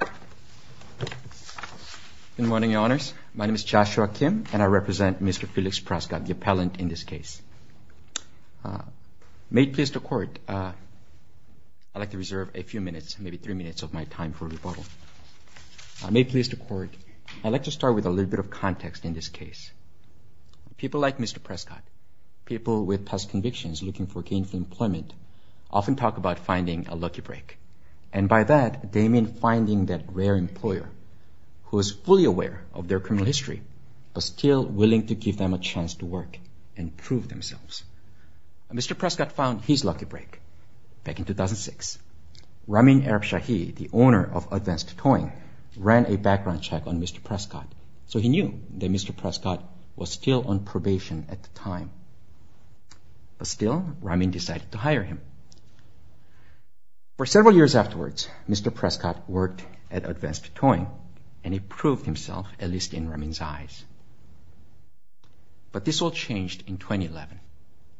Good morning, your honors. My name is Joshua Kim, and I represent Mr. Felix Prescott, the appellant in this case. May it please the court, I'd like to reserve a few minutes, maybe three minutes of my time for rebuttal. May it please the court, I'd like to start with a little bit of context in this case. People like Mr. Prescott, people with past convictions looking for gainful employment, often talk about finding a lucky break. And by that, they mean finding that rare employer who is fully aware of their criminal history but still willing to give them a chance to work and prove themselves. Mr. Prescott found his lucky break. Back in 2006, Ramin Arabshahi, the owner of Advanced Towing, ran a background check on Mr. Prescott, so he knew that Mr. Prescott was still on probation at the time. But still, Ramin decided to hire him. For several years afterwards, Mr. Prescott worked at Advanced Towing, and he proved himself, at least in Ramin's eyes. But this all changed in 2011.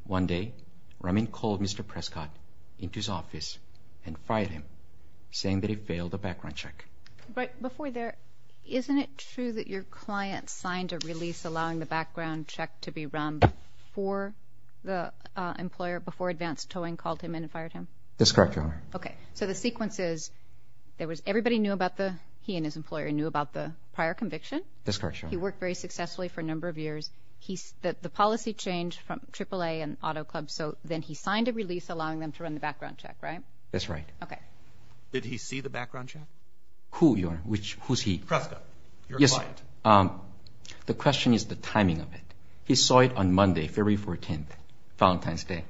One day, Ramin called Mr. Prescott into his office and fired him, saying that he failed the background check. But before there, isn't it true that your client signed a release allowing the background check to be run before the employer, before Advanced Towing called him in and fired him? That's correct, Your Honor. Okay. So the sequence is, there was, everybody knew about the, he and his employer knew about the prior conviction? That's correct, Your Honor. He worked very successfully for a number of years. The policy changed from AAA and Auto Club, so then he signed a release allowing them to run the background check, right? That's right. Okay. Did he see the background check? Who, Your The question is the timing of it. He saw it on Monday, February 14th, Valentine's Day,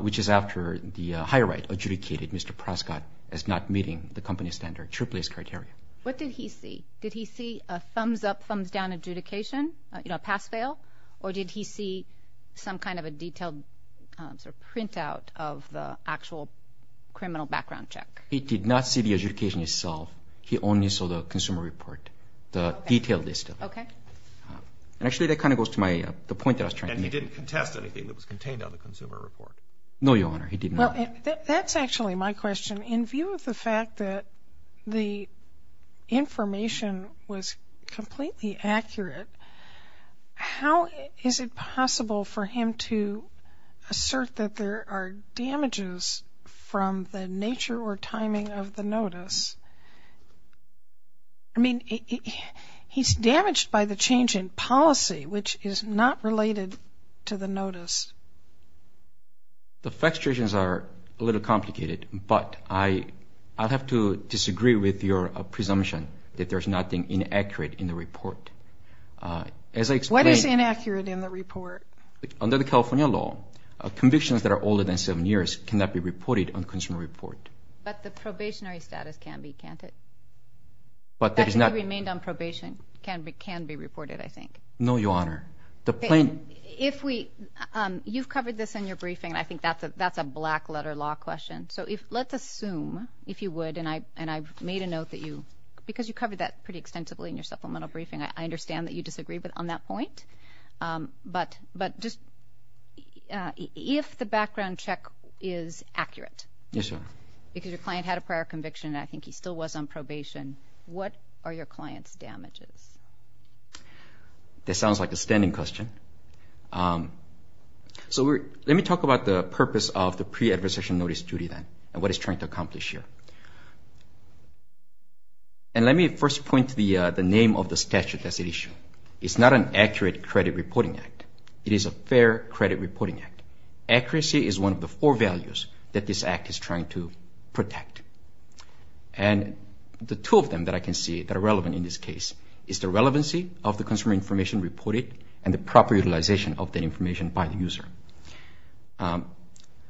which is after the higher right adjudicated Mr. Prescott as not meeting the company standard, AAA's criteria. What did he see? Did he see a thumbs-up, thumbs-down adjudication, a pass-fail? Or did he see some kind of a detailed sort of printout of the actual criminal background check? He did not see the adjudication itself. He only saw the consumer report, the detailed list of it. Okay. And actually, that kind of goes to my, the point that I was trying to make. And he didn't contest anything that was contained on the consumer report? No, Your Honor, he did not. Well, that's actually my question. In view of the fact that the information was completely accurate, how is it possible for him to assert that there are timing of the notice? I mean, he's damaged by the change in policy, which is not related to the notice. The fact is, are a little complicated, but I, I'd have to disagree with your presumption that there's nothing inaccurate in the report. As I explain, What is inaccurate in the report? Under the California law, convictions that are older than seven years cannot be reported on consumer report. But the probationary status can be, can't it? But that is not remained on probation, can be, can be reported, I think. No, Your Honor. The plain, if we, you've covered this in your briefing, I think that's a, that's a black letter law question. So if, let's assume if you would, and I, and I've made a note that you, because you covered that pretty extensively in your supplemental briefing, I understand that you disagree with on that Yes, Your Honor. Because your client had a prior conviction, and I think he still was on probation. What are your client's damages? That sounds like a standing question. So we're, let me talk about the purpose of the pre-adversarial notice duty then, and what it's trying to accomplish here. And let me first point to the, the name of the statute that's at issue. It's not an accurate credit reporting act. It is a fair credit reporting act. Accuracy is one of the four values that this act is trying to protect. And the two of them that I can see that are relevant in this case is the relevancy of the consumer information reported and the proper utilization of that information by the user.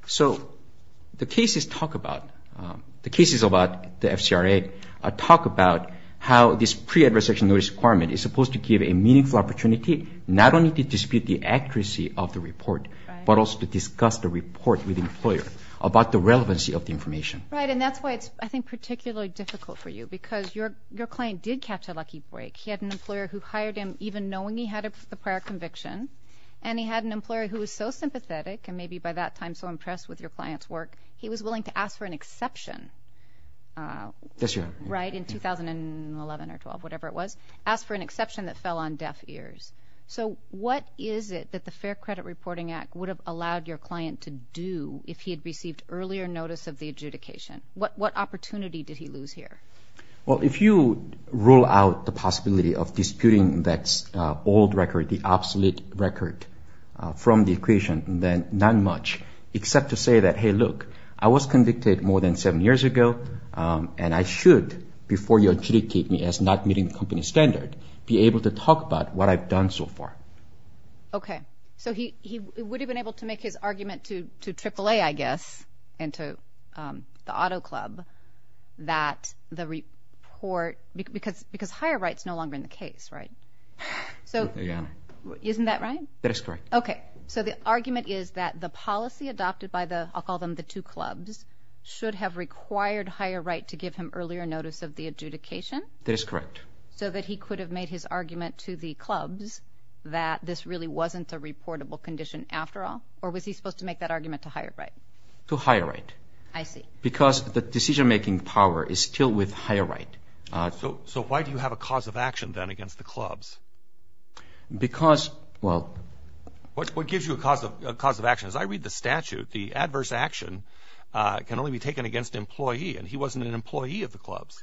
So the cases talk about, the cases about the FCRA talk about how this pre-adversarial notice requirement is supposed to give a meaningful opportunity, not only to dispute the accuracy of the report, but also to discuss the report with the employer about the relevancy of the information. Right, and that's why it's, I think, particularly difficult for you, because your, your client did catch a lucky break. He had an employer who hired him even knowing he had a prior conviction, and he had an employer who was so sympathetic, and maybe by that time so impressed with your client's work, he was willing to ask for an exception, right, in 2011 or 12, whatever it was, ask for an exception that fell on deaf ears. So what is it that the Fair Credit Reporting Act would have allowed your client to do if he had received earlier notice of the adjudication? What, what opportunity did he lose here? Well, if you rule out the possibility of disputing that old record, the obsolete record from the equation, then not much, except to say that, hey, look, I was convicted more than seven years ago, and I should, before you adjudicate me as not meeting the company standard, be able to talk about what I've done so far. Okay. So he, he would have been able to make his argument to, to AAA, I guess, and to the auto club that the report, because, because higher rights no longer in the case, right? So isn't that right? That is correct. Okay. So the argument is that the policy adopted by the, I'll call them the two clubs, should have required higher right to give him earlier notice of the adjudication? That is correct. So that he could have made his argument to the clubs that this really wasn't a reportable condition after all? Or was he supposed to make that argument to higher right? To higher right. I see. Because the decision-making power is still with higher right. So why do you have a cause of action then against the clubs? Because, well. What gives you a cause of, a cause of action? As I read the statute, the adverse action can only be taken against employee, and he wasn't an employee of the clubs.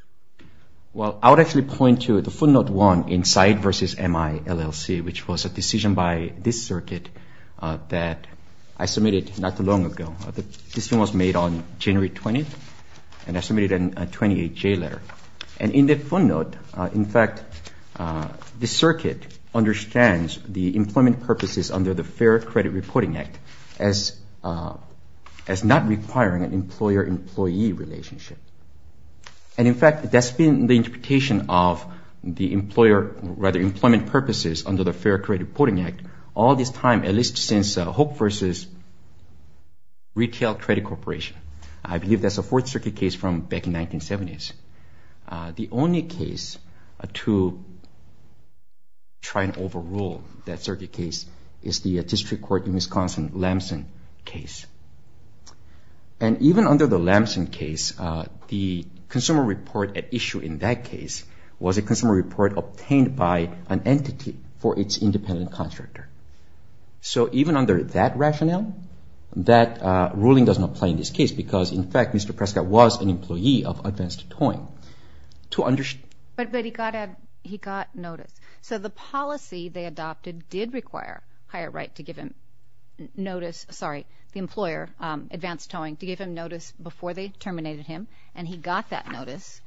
Well, I would actually point to the footnote one in Said v. MI LLC, which was a decision by this circuit that I submitted not too long ago. This one was made on January 20th, and I submitted a 28-J letter. And in the footnote, in fact, the circuit understands the employment purposes under the Fair Credit Reporting Act as, as not requiring an employer-employee relationship. And in fact, that's been the interpretation of the employer, rather employment purposes under the Fair Credit Reporting Act all this time, at least since Hoek v. Retail Credit Corporation. I believe that's a Fourth Circuit case from back in 1970s. The only case to try and overrule that circuit case is the District Court in Wisconsin Lamson case. And even under the Lamson case, the consumer report at issue in that case was a consumer report obtained by an entity for its independent contractor. So even under that rationale, that ruling does not play in this case because, in fact, Mr. Prescott was an employee of Advanced Towing. But he got a, he got notice. So the policy they adopted did require higher right to give him notice, sorry, the employer, Advanced Towing, to give him notice before they terminated him, and he got that notice.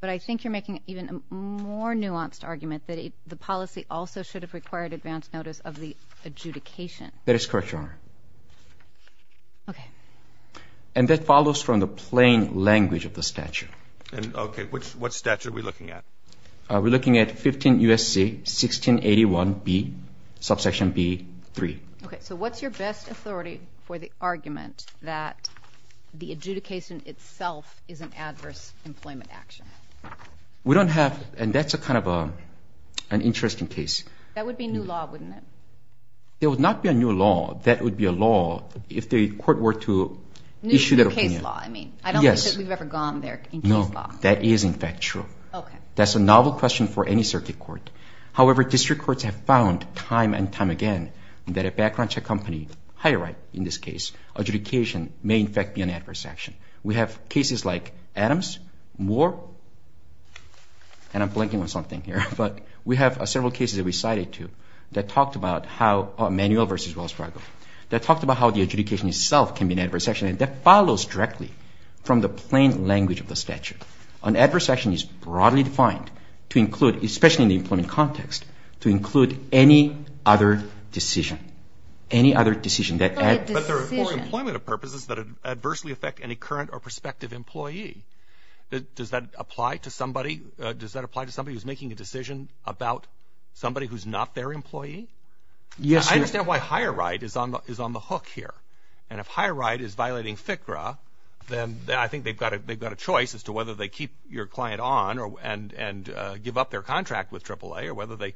But I think you're making even a more nuanced argument that the policy also should have required advance notice of the adjudication. That is correct, Your Honor. And that follows from the plain language of the statute. And okay, which, what statute are we looking at? We're looking at 15 U.S.C. 1681b, subsection b, 3. Okay, so what's your best authority for the argument that the adjudication itself is an adverse employment action? We don't have, and that's a kind of an interesting case. That would be new law, wouldn't it? It would not be a new law. That would be a law if the court were to issue that opinion. New case law, I mean. Yes. I don't think we've ever gone there in case law. No, that is, in fact, true. That's a novel question for any circuit court. However, district courts have found time and time again that a background check company, higher right in this case, adjudication may in fact be an adverse action. We have cases like Adams, Moore, and I'm blanking on something here, but we have several cases that we cited too that talked about how, Manuel v. Wells Fargo, that talked about how the adjudication itself can be an adverse action, and that follows directly from the plain language of the statute. An adverse action is broadly defined to include, especially in the employment context, to include any other decision. Any other decision that adds... But they're for employment purposes that adversely affect any current or prospective employee. Does that apply to somebody? Does that apply to somebody who's making a decision about somebody who's not their employee? Yes, sir. I understand why higher right is on the hook here, and if higher right is violating FCRA, then I think they've got a choice as to whether they keep your client on and give up their contract with AAA, or whether they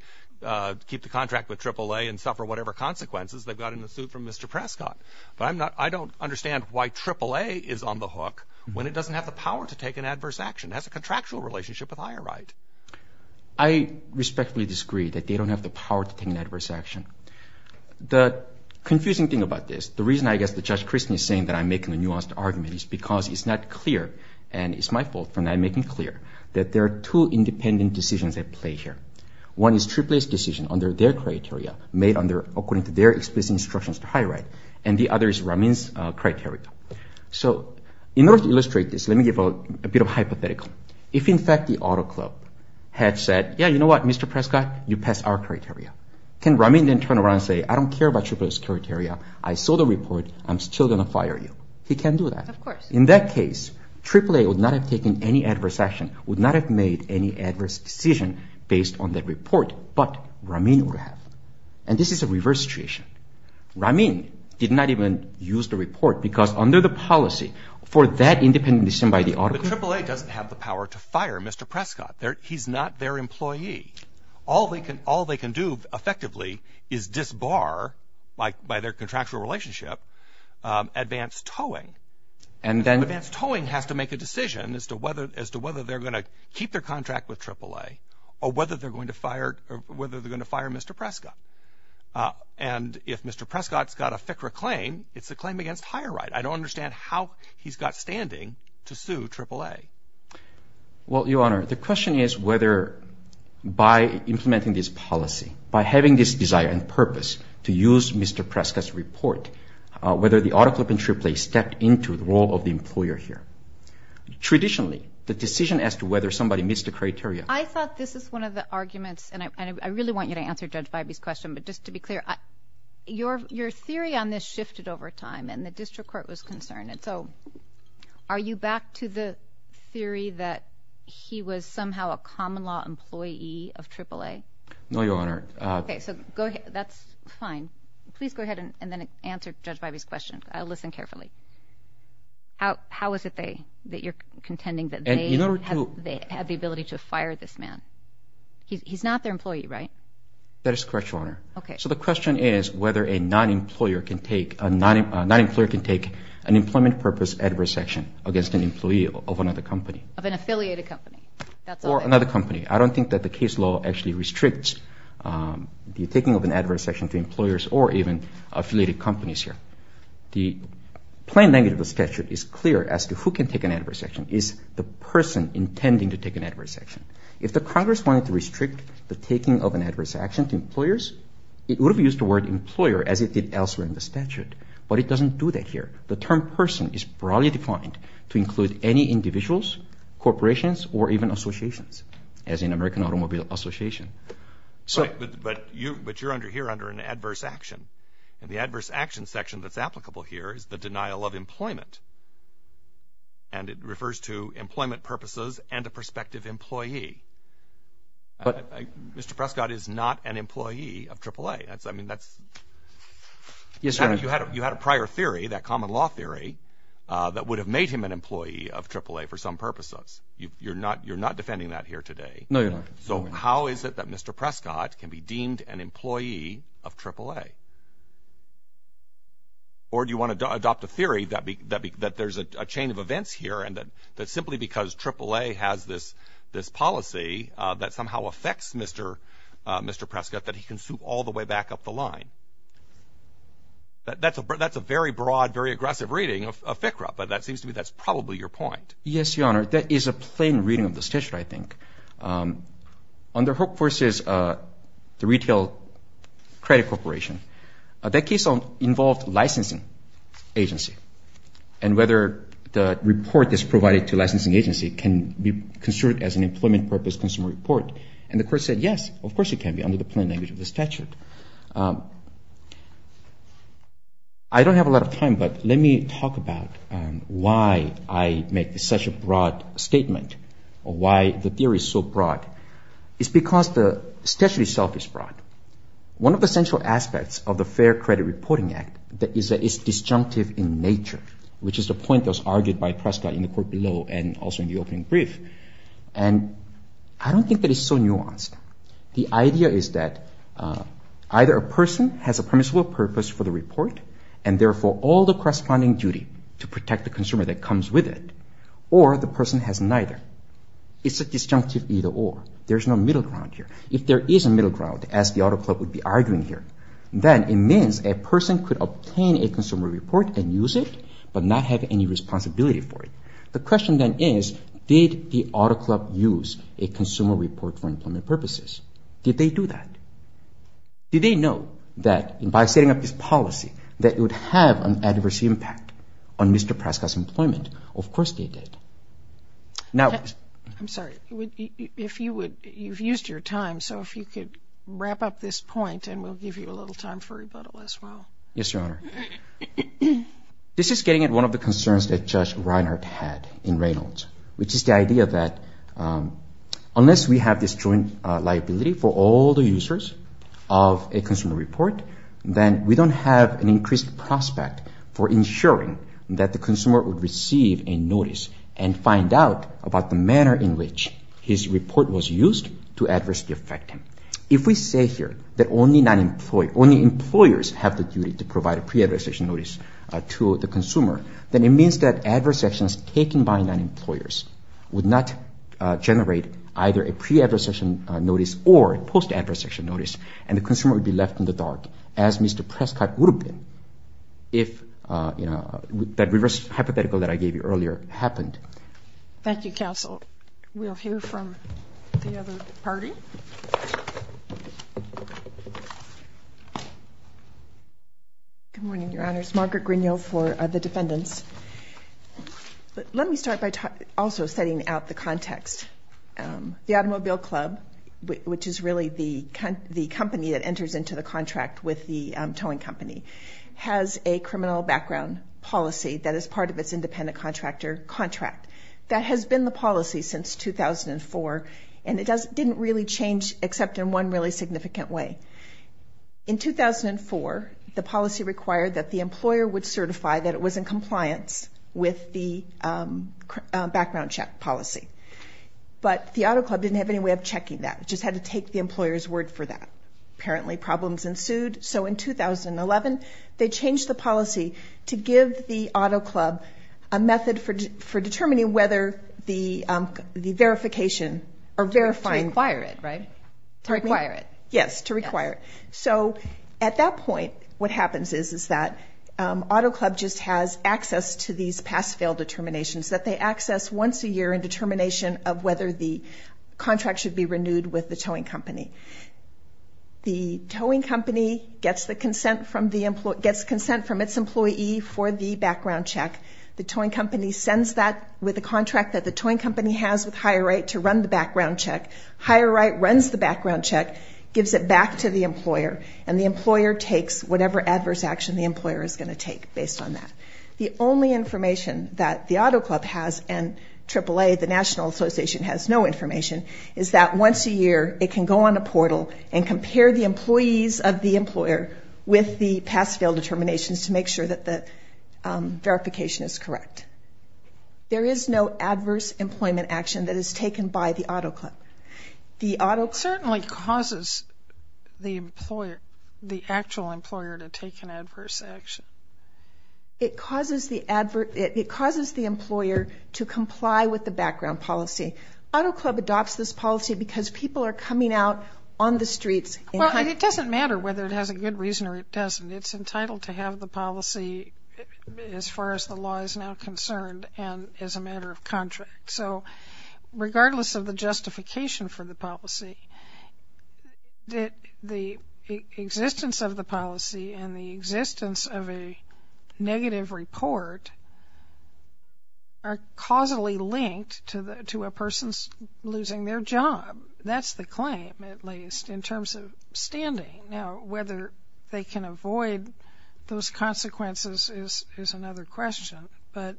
keep the contract with AAA and suffer whatever consequences they've got in the suit from Mr. Prescott. But I don't understand why AAA is on the hook when it doesn't have the power to take an adverse action. It has a contractual relationship with higher right. I respectfully disagree that they don't have the power to take an adverse action. The confusing thing about this, the reason I guess that Judge Christy is saying that I'm making a nuanced argument is because it's not clear, and it's my fault for not making it clear, that there are two independent decisions at play here. One is AAA's decision under their criteria, made according to their explicit instructions to higher right, and the other is Ramin's criteria. So in order to illustrate this, let me give a bit of a hypothetical. If in fact the Auto Club had said, yeah, you know what, Mr. Prescott, you pass our criteria, can Ramin then turn around and say, I don't care about AAA's criteria, I saw the report, I'm still going to fire you? He can't do that. Of course. In that case, AAA would not have taken any adverse action, would not have made any adverse decision based on that report, but Ramin would have. And this is a reverse situation. Ramin did not even use the report because under the policy for that independent decision by the Auto Club. But AAA doesn't have the power to fire Mr. Prescott. He's not their employee. All they can do effectively is disbar, like by their contractual relationship, advanced towing. Advanced towing has to make a decision as to whether they're going to keep their contract with AAA or whether they're going to fire Mr. Prescott. And if Mr. Prescott's got a FCRA claim, it's a claim against higher right. I don't understand how he's got standing to sue AAA. Well, Your Honor, the question is whether by implementing this policy, by having this desire and purpose to use Mr. Prescott's report, whether the Auto Club and AAA stepped into the role of the employer here. Traditionally, the decision as to whether somebody meets the criteria. I thought this is one of the arguments, and I really want you to answer Judge Vibey's question, but just to be clear, your theory on this shifted over time and the district court was concerned. So are you back to the theory that he was somehow a common law employee of AAA? No, Your Honor. Okay, so that's fine. Please go ahead and then answer Judge Vibey's question. I'll listen carefully. How is it that you're contending that they have the ability to fire this man? He's not their employee, right? That is correct, Your Honor. So the question is whether a non-employer can take an employment purpose adverse action against an employee of another company. Of an affiliated company, that's all it is. Or another company. I don't think that the case law actually restricts the taking of an adverse action to employers or even affiliated companies here. The plain language of the statute is clear as to who can take an adverse action, is the person intending to take an adverse action. If the Congress wanted to restrict the taking of an adverse action to employers, it would have used the word employer as it did elsewhere in the statute. But it doesn't do that here. The term person is broadly defined to include any individuals, corporations, or even associations. As in American Automobile Association. But you're under here under an adverse action. And the adverse action section that's applicable here is the denial of employment. And it refers to employment purposes and a prospective employee. But Mr. Prescott is not an employee of AAA. That's, I mean, that's, you had a prior theory, that common law theory, that would have made him an employee of AAA for some purposes. You're not, you're not defending that here today. No, Your Honor. So how is it that Mr. Prescott can be deemed an employee of AAA? Or do you want to adopt a theory that there's a chain of events here, and that simply because AAA has this policy that somehow affects Mr. Prescott, that he can suit all the way back up the line? That's a very broad, very aggressive reading of FCRA. But that seems to me that's probably your point. Yes, Your Honor. That is a plain reading of the statute, I think. Under Hope Force's, the Retail Credit Corporation, that case involved licensing agency. And whether the report that's provided to licensing agency can be considered as an employment purpose consumer report. And the court said, yes, of course it can be, under the plain language of the statute. I don't have a lot of time, but let me talk about why I make such a broad statement. Or why the theory is so broad. It's because the statute itself is broad. One of the central aspects of the Fair Credit Reporting Act is that it's disjunctive in nature, which is the point that was argued by Prescott in the court below, and also in the opening brief. And I don't think that it's so nuanced. The idea is that either a person has a permissible purpose for the report, and therefore all the corresponding duty to protect the consumer that comes with it, or the person has neither. It's a disjunctive either or. There's no middle ground here. If there is a middle ground, as the Auto Club would be arguing here, then it means a person could obtain a consumer report and use it, but not have any responsibility for it. The question then is, did the Auto Club use a consumer report for employment purposes? Did they do that? Did they know that by setting up this policy, that it would have an adverse impact on Mr. Prescott's employment? Of course they did. Now... I'm sorry. If you would... You've used your time, so if you could wrap up this point, and we'll give you a little time for rebuttal as well. Yes, Your Honor. This is getting at one of the concerns that Judge Reinhart had in Reynolds, which is the of a consumer report, then we don't have an increased prospect for ensuring that the consumer would receive a notice and find out about the manner in which his report was used to adversely affect him. If we say here that only employers have the duty to provide a pre-adversation notice to the consumer, then it means that adverse actions taken by non-employers would not generate either a pre-adversation notice or a post-adversation notice, and the consumer would be left in the dark, as Mr. Prescott would have been if that reverse hypothetical that I gave you earlier happened. Thank you, Counsel. We'll hear from the other party. Good morning, Your Honors. Margaret Grignio for the defendants. Let me start by also setting out the context. The Automobile Club, which is really the company that enters into the contract with the towing company, has a criminal background policy that is part of its independent contractor contract. That has been the policy since 2004, and it didn't really change except in one really significant way. In 2004, the policy required that the employer would certify that it was in compliance with the background check policy, but the Auto Club didn't have any way of checking that. It just had to take the employer's word for that. Apparently, problems ensued, so in 2011, they changed the policy to give the Auto Club a method for determining whether the verification or verifying... To require it, right? To require it. Yes, to require it. So at that point, what happens is that Auto Club just has access to these pass-fail determinations that they access once a year in determination of whether the contract should be renewed with the towing company. The towing company gets the consent from its employee for the background check. The towing company sends that with a contract that the towing company has with Higher Right to run the background check. Higher Right runs the background check, gives it back to the employer, and the employer takes whatever adverse action the employer is going to take based on that. The only information that the Auto Club has, and AAA, the National Association, has no information, is that once a year, it can go on a portal and compare the employees of the employer with the pass-fail determinations to make sure that the verification is correct. There is no adverse employment action that is taken by the Auto Club. It certainly causes the actual employer to take an adverse action. It causes the employer to comply with the background policy. Auto Club adopts this policy because people are coming out on the streets... Well, it doesn't matter whether it has a good reason or it doesn't. It's entitled to have the policy as far as the law is now concerned and as a matter of contract. So, regardless of the justification for the policy, the existence of the policy and the existence of a negative report are causally linked to a person losing their job. That's the claim, at least, in terms of standing. Now, whether they can avoid those consequences is another question, but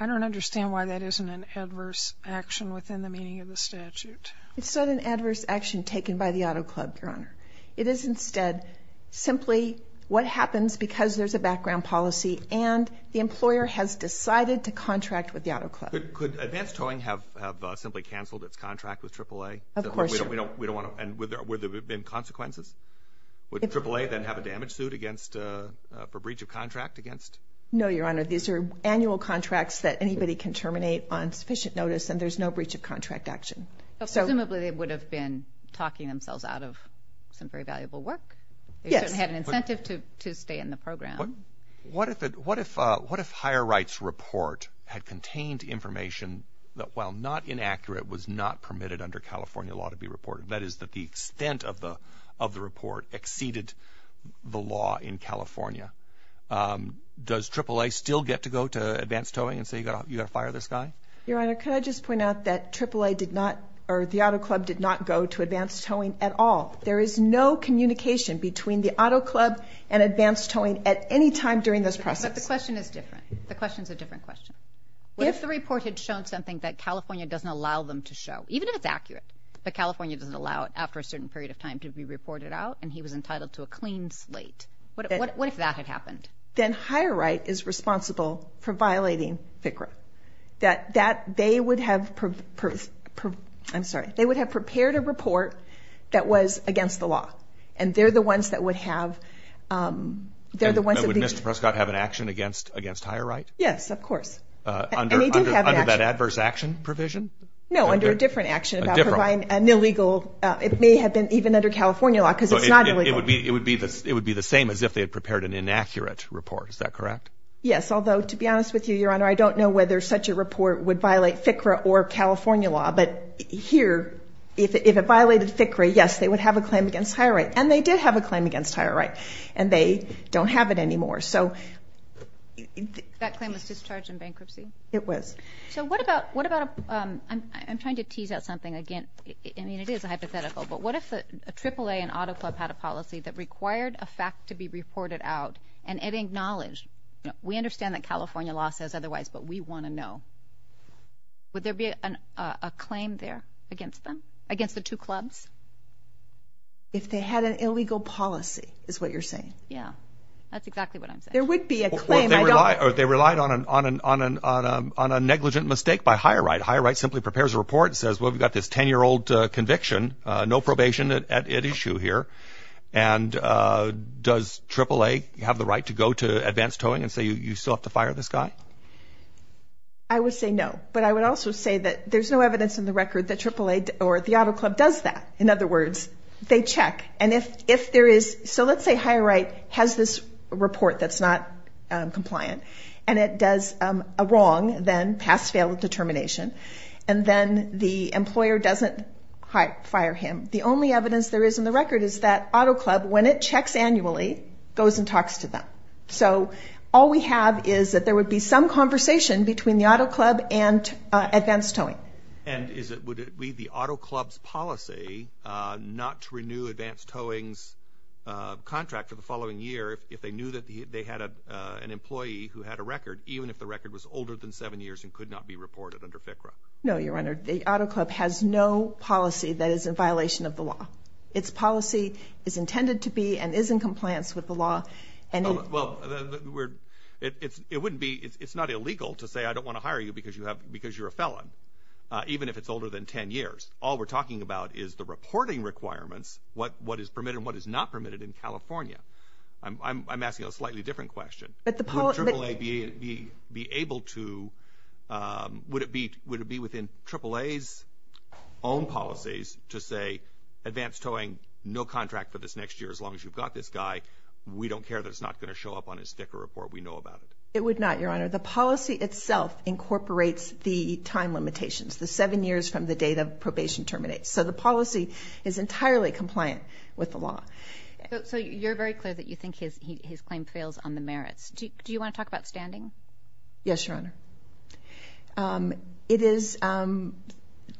I don't understand why that isn't an adverse action within the meaning of the statute. It's not an adverse action taken by the Auto Club, Your Honor. It is, instead, simply what happens because there's a background policy and the employer has decided to contract with the Auto Club. Could advanced towing have simply canceled its contract with AAA? Of course. And would there have been consequences? Would AAA then have a damage suit for breach of contract? No, Your Honor. These are annual contracts that anybody can terminate on sufficient notice and there's no breach of contract action. Presumably, they would have been talking themselves out of some very valuable work. Yes. They shouldn't have had an incentive to stay in the program. What if higher rights report had contained information that, while not inaccurate, was under California law to be reported, that is, that the extent of the report exceeded the law in California? Does AAA still get to go to advanced towing and say, you've got to fire this guy? Your Honor, could I just point out that AAA did not, or the Auto Club did not go to advanced towing at all. There is no communication between the Auto Club and advanced towing at any time during this process. But the question is different. The question is a different question. If the report had shown something that California doesn't allow them to show, even if it's accurate, but California doesn't allow it after a certain period of time to be reported out and he was entitled to a clean slate, what if that had happened? Then higher right is responsible for violating FCRA. That they would have, I'm sorry, they would have prepared a report that was against the law. And they're the ones that would have, they're the ones that would... Would Mr. Prescott have an action against higher right? Yes, of course. And he did have an action. Under that adverse action provision? No, under a different action about providing an illegal, it may have been even under California law because it's not illegal. It would be the same as if they had prepared an inaccurate report. Is that correct? Yes. Although, to be honest with you, Your Honor, I don't know whether such a report would violate FCRA or California law. But here, if it violated FCRA, yes, they would have a claim against higher right. And they did have a claim against higher right. And they don't have it anymore. That claim was discharged in bankruptcy? It was. So what about, I'm trying to tease out something again. I mean, it is a hypothetical. But what if the AAA and Auto Club had a policy that required a fact to be reported out and it acknowledged, we understand that California law says otherwise, but we want to know. Would there be a claim there against them? Against the two clubs? If they had an illegal policy, is what you're saying. Yeah. That's exactly what I'm saying. There would be a claim. They relied on a negligent mistake by higher right. Higher right simply prepares a report and says, well, we've got this 10-year-old conviction, no probation at issue here. And does AAA have the right to go to advanced towing and say, you still have to fire this guy? I would say no. But I would also say that there's no evidence in the record that AAA or the Auto Club does that. In other words, they check. So let's say higher right has this report that's not compliant and it does a wrong, then pass-fail determination, and then the employer doesn't fire him. The only evidence there is in the record is that Auto Club, when it checks annually, goes and talks to them. So all we have is that there would be some conversation between the Auto Club and advanced towing. And would it be the Auto Club's policy not to renew advanced towing's contract for the following year if they knew that they had an employee who had a record, even if the record was older than seven years and could not be reported under FCRA? No, Your Honor. The Auto Club has no policy that is in violation of the law. Its policy is intended to be and is in compliance with the law. Well, it wouldn't be – it's not illegal to say I don't want to hire you because you're a felon, even if it's older than 10 years. All we're talking about is the reporting requirements, what is permitted and what is not permitted in California. I'm asking a slightly different question. But the – Would AAA be able to – would it be within AAA's own policies to say advanced towing, no contract for this next year as long as you've got this guy? We don't care that it's not going to show up on his sticker report. We know about it. It would not, Your Honor. The policy itself incorporates the time limitations, the seven years from the date of probation terminates. So the policy is entirely compliant with the law. So you're very clear that you think his claim prevails on the merits. Do you want to talk about standing? Yes, Your Honor. It is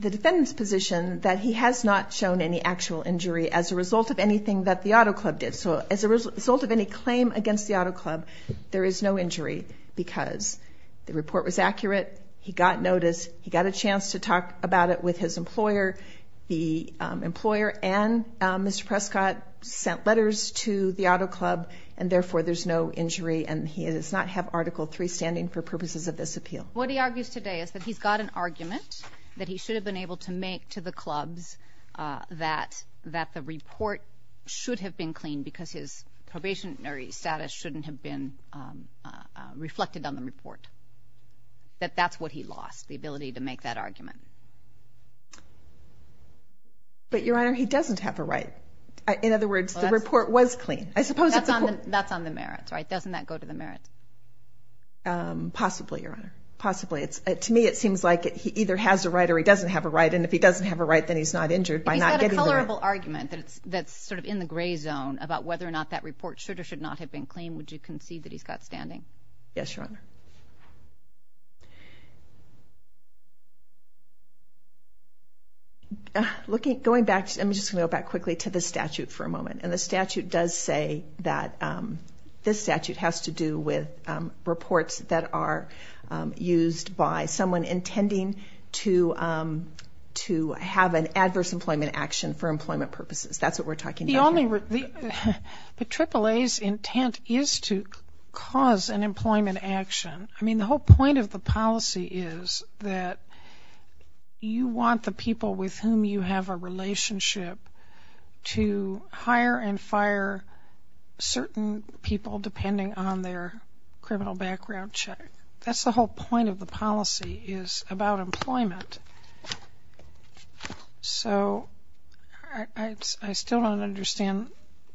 the defendant's position that he has not shown any actual injury as a result of anything that the Auto Club did. So as a result of any claim against the Auto Club, there is no injury because the report was accurate. He got notice. He got a chance to talk about it with his employer. The employer and Mr. Prescott sent letters to the Auto Club. And therefore, there's no injury. And he does not have Article III standing for purposes of this appeal. What he argues today is that he's got an argument that he should have been able to because his probationary status shouldn't have been reflected on the report. That that's what he lost, the ability to make that argument. But, Your Honor, he doesn't have a right. In other words, the report was clean. That's on the merits, right? Doesn't that go to the merits? Possibly, Your Honor. Possibly. To me, it seems like he either has a right or he doesn't have a right. That's sort of in the gray zone about whether or not that report should or should not have been claimed. Would you concede that he's got standing? Yes, Your Honor. Going back, I'm just going to go back quickly to the statute for a moment. And the statute does say that this statute has to do with reports that are used by someone intending to have an adverse employment action for employment purposes. That's what we're talking about here. But AAA's intent is to cause an employment action. I mean, the whole point of the policy is that you want the people with whom you have a relationship to hire and fire certain people depending on their criminal background check. That's the whole point of the policy is about employment. So, I still don't understand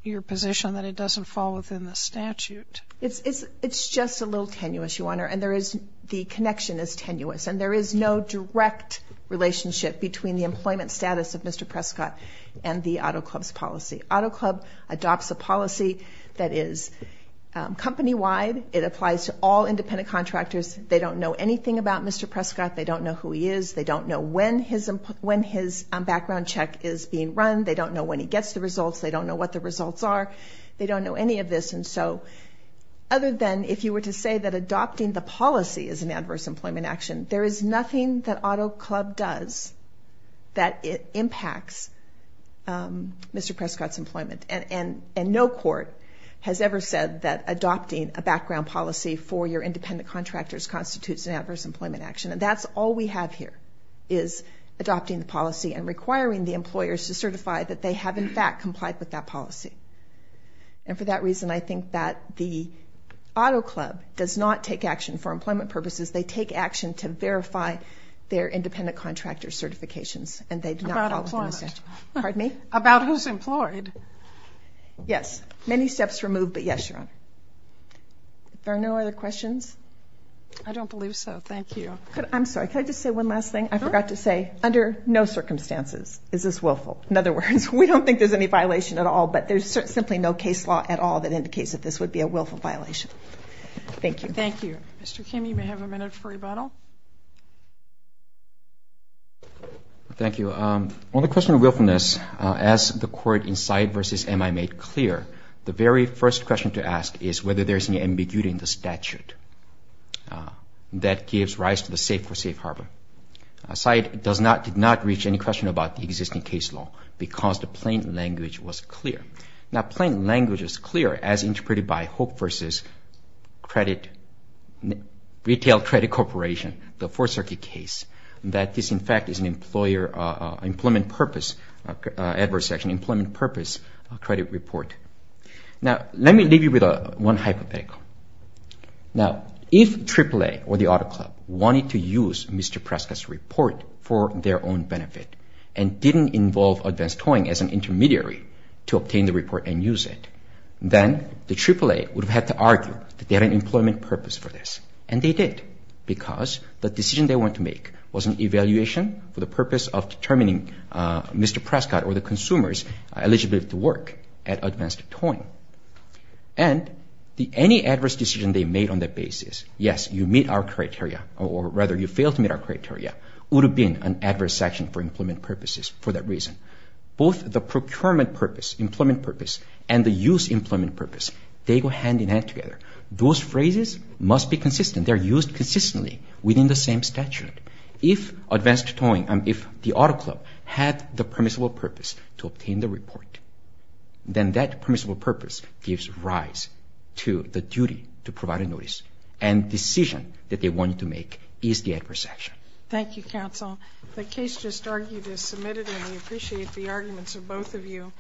your position that it doesn't fall within the statute. It's just a little tenuous, Your Honor. And the connection is tenuous. And there is no direct relationship between the employment status of Mr. Prescott and the Auto Club's policy. Auto Club adopts a policy that is company-wide. It applies to all independent contractors. They don't know anything about Mr. Prescott. They don't know who he is. They don't know when his background check is being run. They don't know when he gets the results. They don't know what the results are. They don't know any of this. And so, other than if you were to say that adopting the policy is an adverse employment action, there is nothing that Auto Club does that impacts Mr. Prescott's employment. And no court has ever said that adopting a background policy for your independent contractors constitutes an adverse employment action. And that's all we have here is adopting the policy and requiring the employers to certify that they have, in fact, complied with that policy. And for that reason, I think that the Auto Club does not take action for employment purposes. They take action to verify their independent contractor certifications, and they do not fall within the statute. About employment. Pardon me? About who's employed. Yes. Many steps removed, but yes, Your Honor. Are there no other questions? I don't believe so. Thank you. I'm sorry. Can I just say one last thing? I forgot to say, under no circumstances is this willful. In other words, we don't think there's any violation at all, but there's simply no case law at all that indicates that this would be a willful violation. Thank you. Thank you. Mr. Kim, you may have a minute for rebuttal. Thank you. On the question of willfulness, as the court in Syed v. M.I. made clear, the very first question to ask is whether there's any ambiguity in the statute that gives rise to the safe for safe harbor. Syed did not reach any question about the existing case law because the plain language was clear. Now, plain language is clear, as interpreted by Hope v. Retail Credit Corporation, the Fourth Circuit case, that this, in fact, is an employment purpose credit report. Now, let me leave you with one hypothetical. Now, if AAA or the Auto Club wanted to use Mr. Prescott's report for their own benefit and didn't involve advanced towing as an intermediary to obtain the report and use it, then the AAA would have had to argue that they had an employment purpose for this, and they did because the decision they wanted to make was an evaluation for the purpose of determining Mr. Prescott or the consumers eligible to work at advanced towing. And any adverse decision they made on that basis, yes, you meet our criteria, or rather you fail to meet our criteria, would have been an adverse action for employment purposes for that reason. Both the procurement purpose, employment purpose, and the use employment purpose, they go hand in hand together. Those phrases must be consistent. They're used consistently within the same statute. If advanced towing, if the Auto Club had the permissible purpose to obtain the report, then that permissible purpose gives rise to the duty to provide a notice, and decision that they wanted to make is the adverse action. Thank you, counsel. The case just argued is submitted, and we appreciate the arguments of both of you.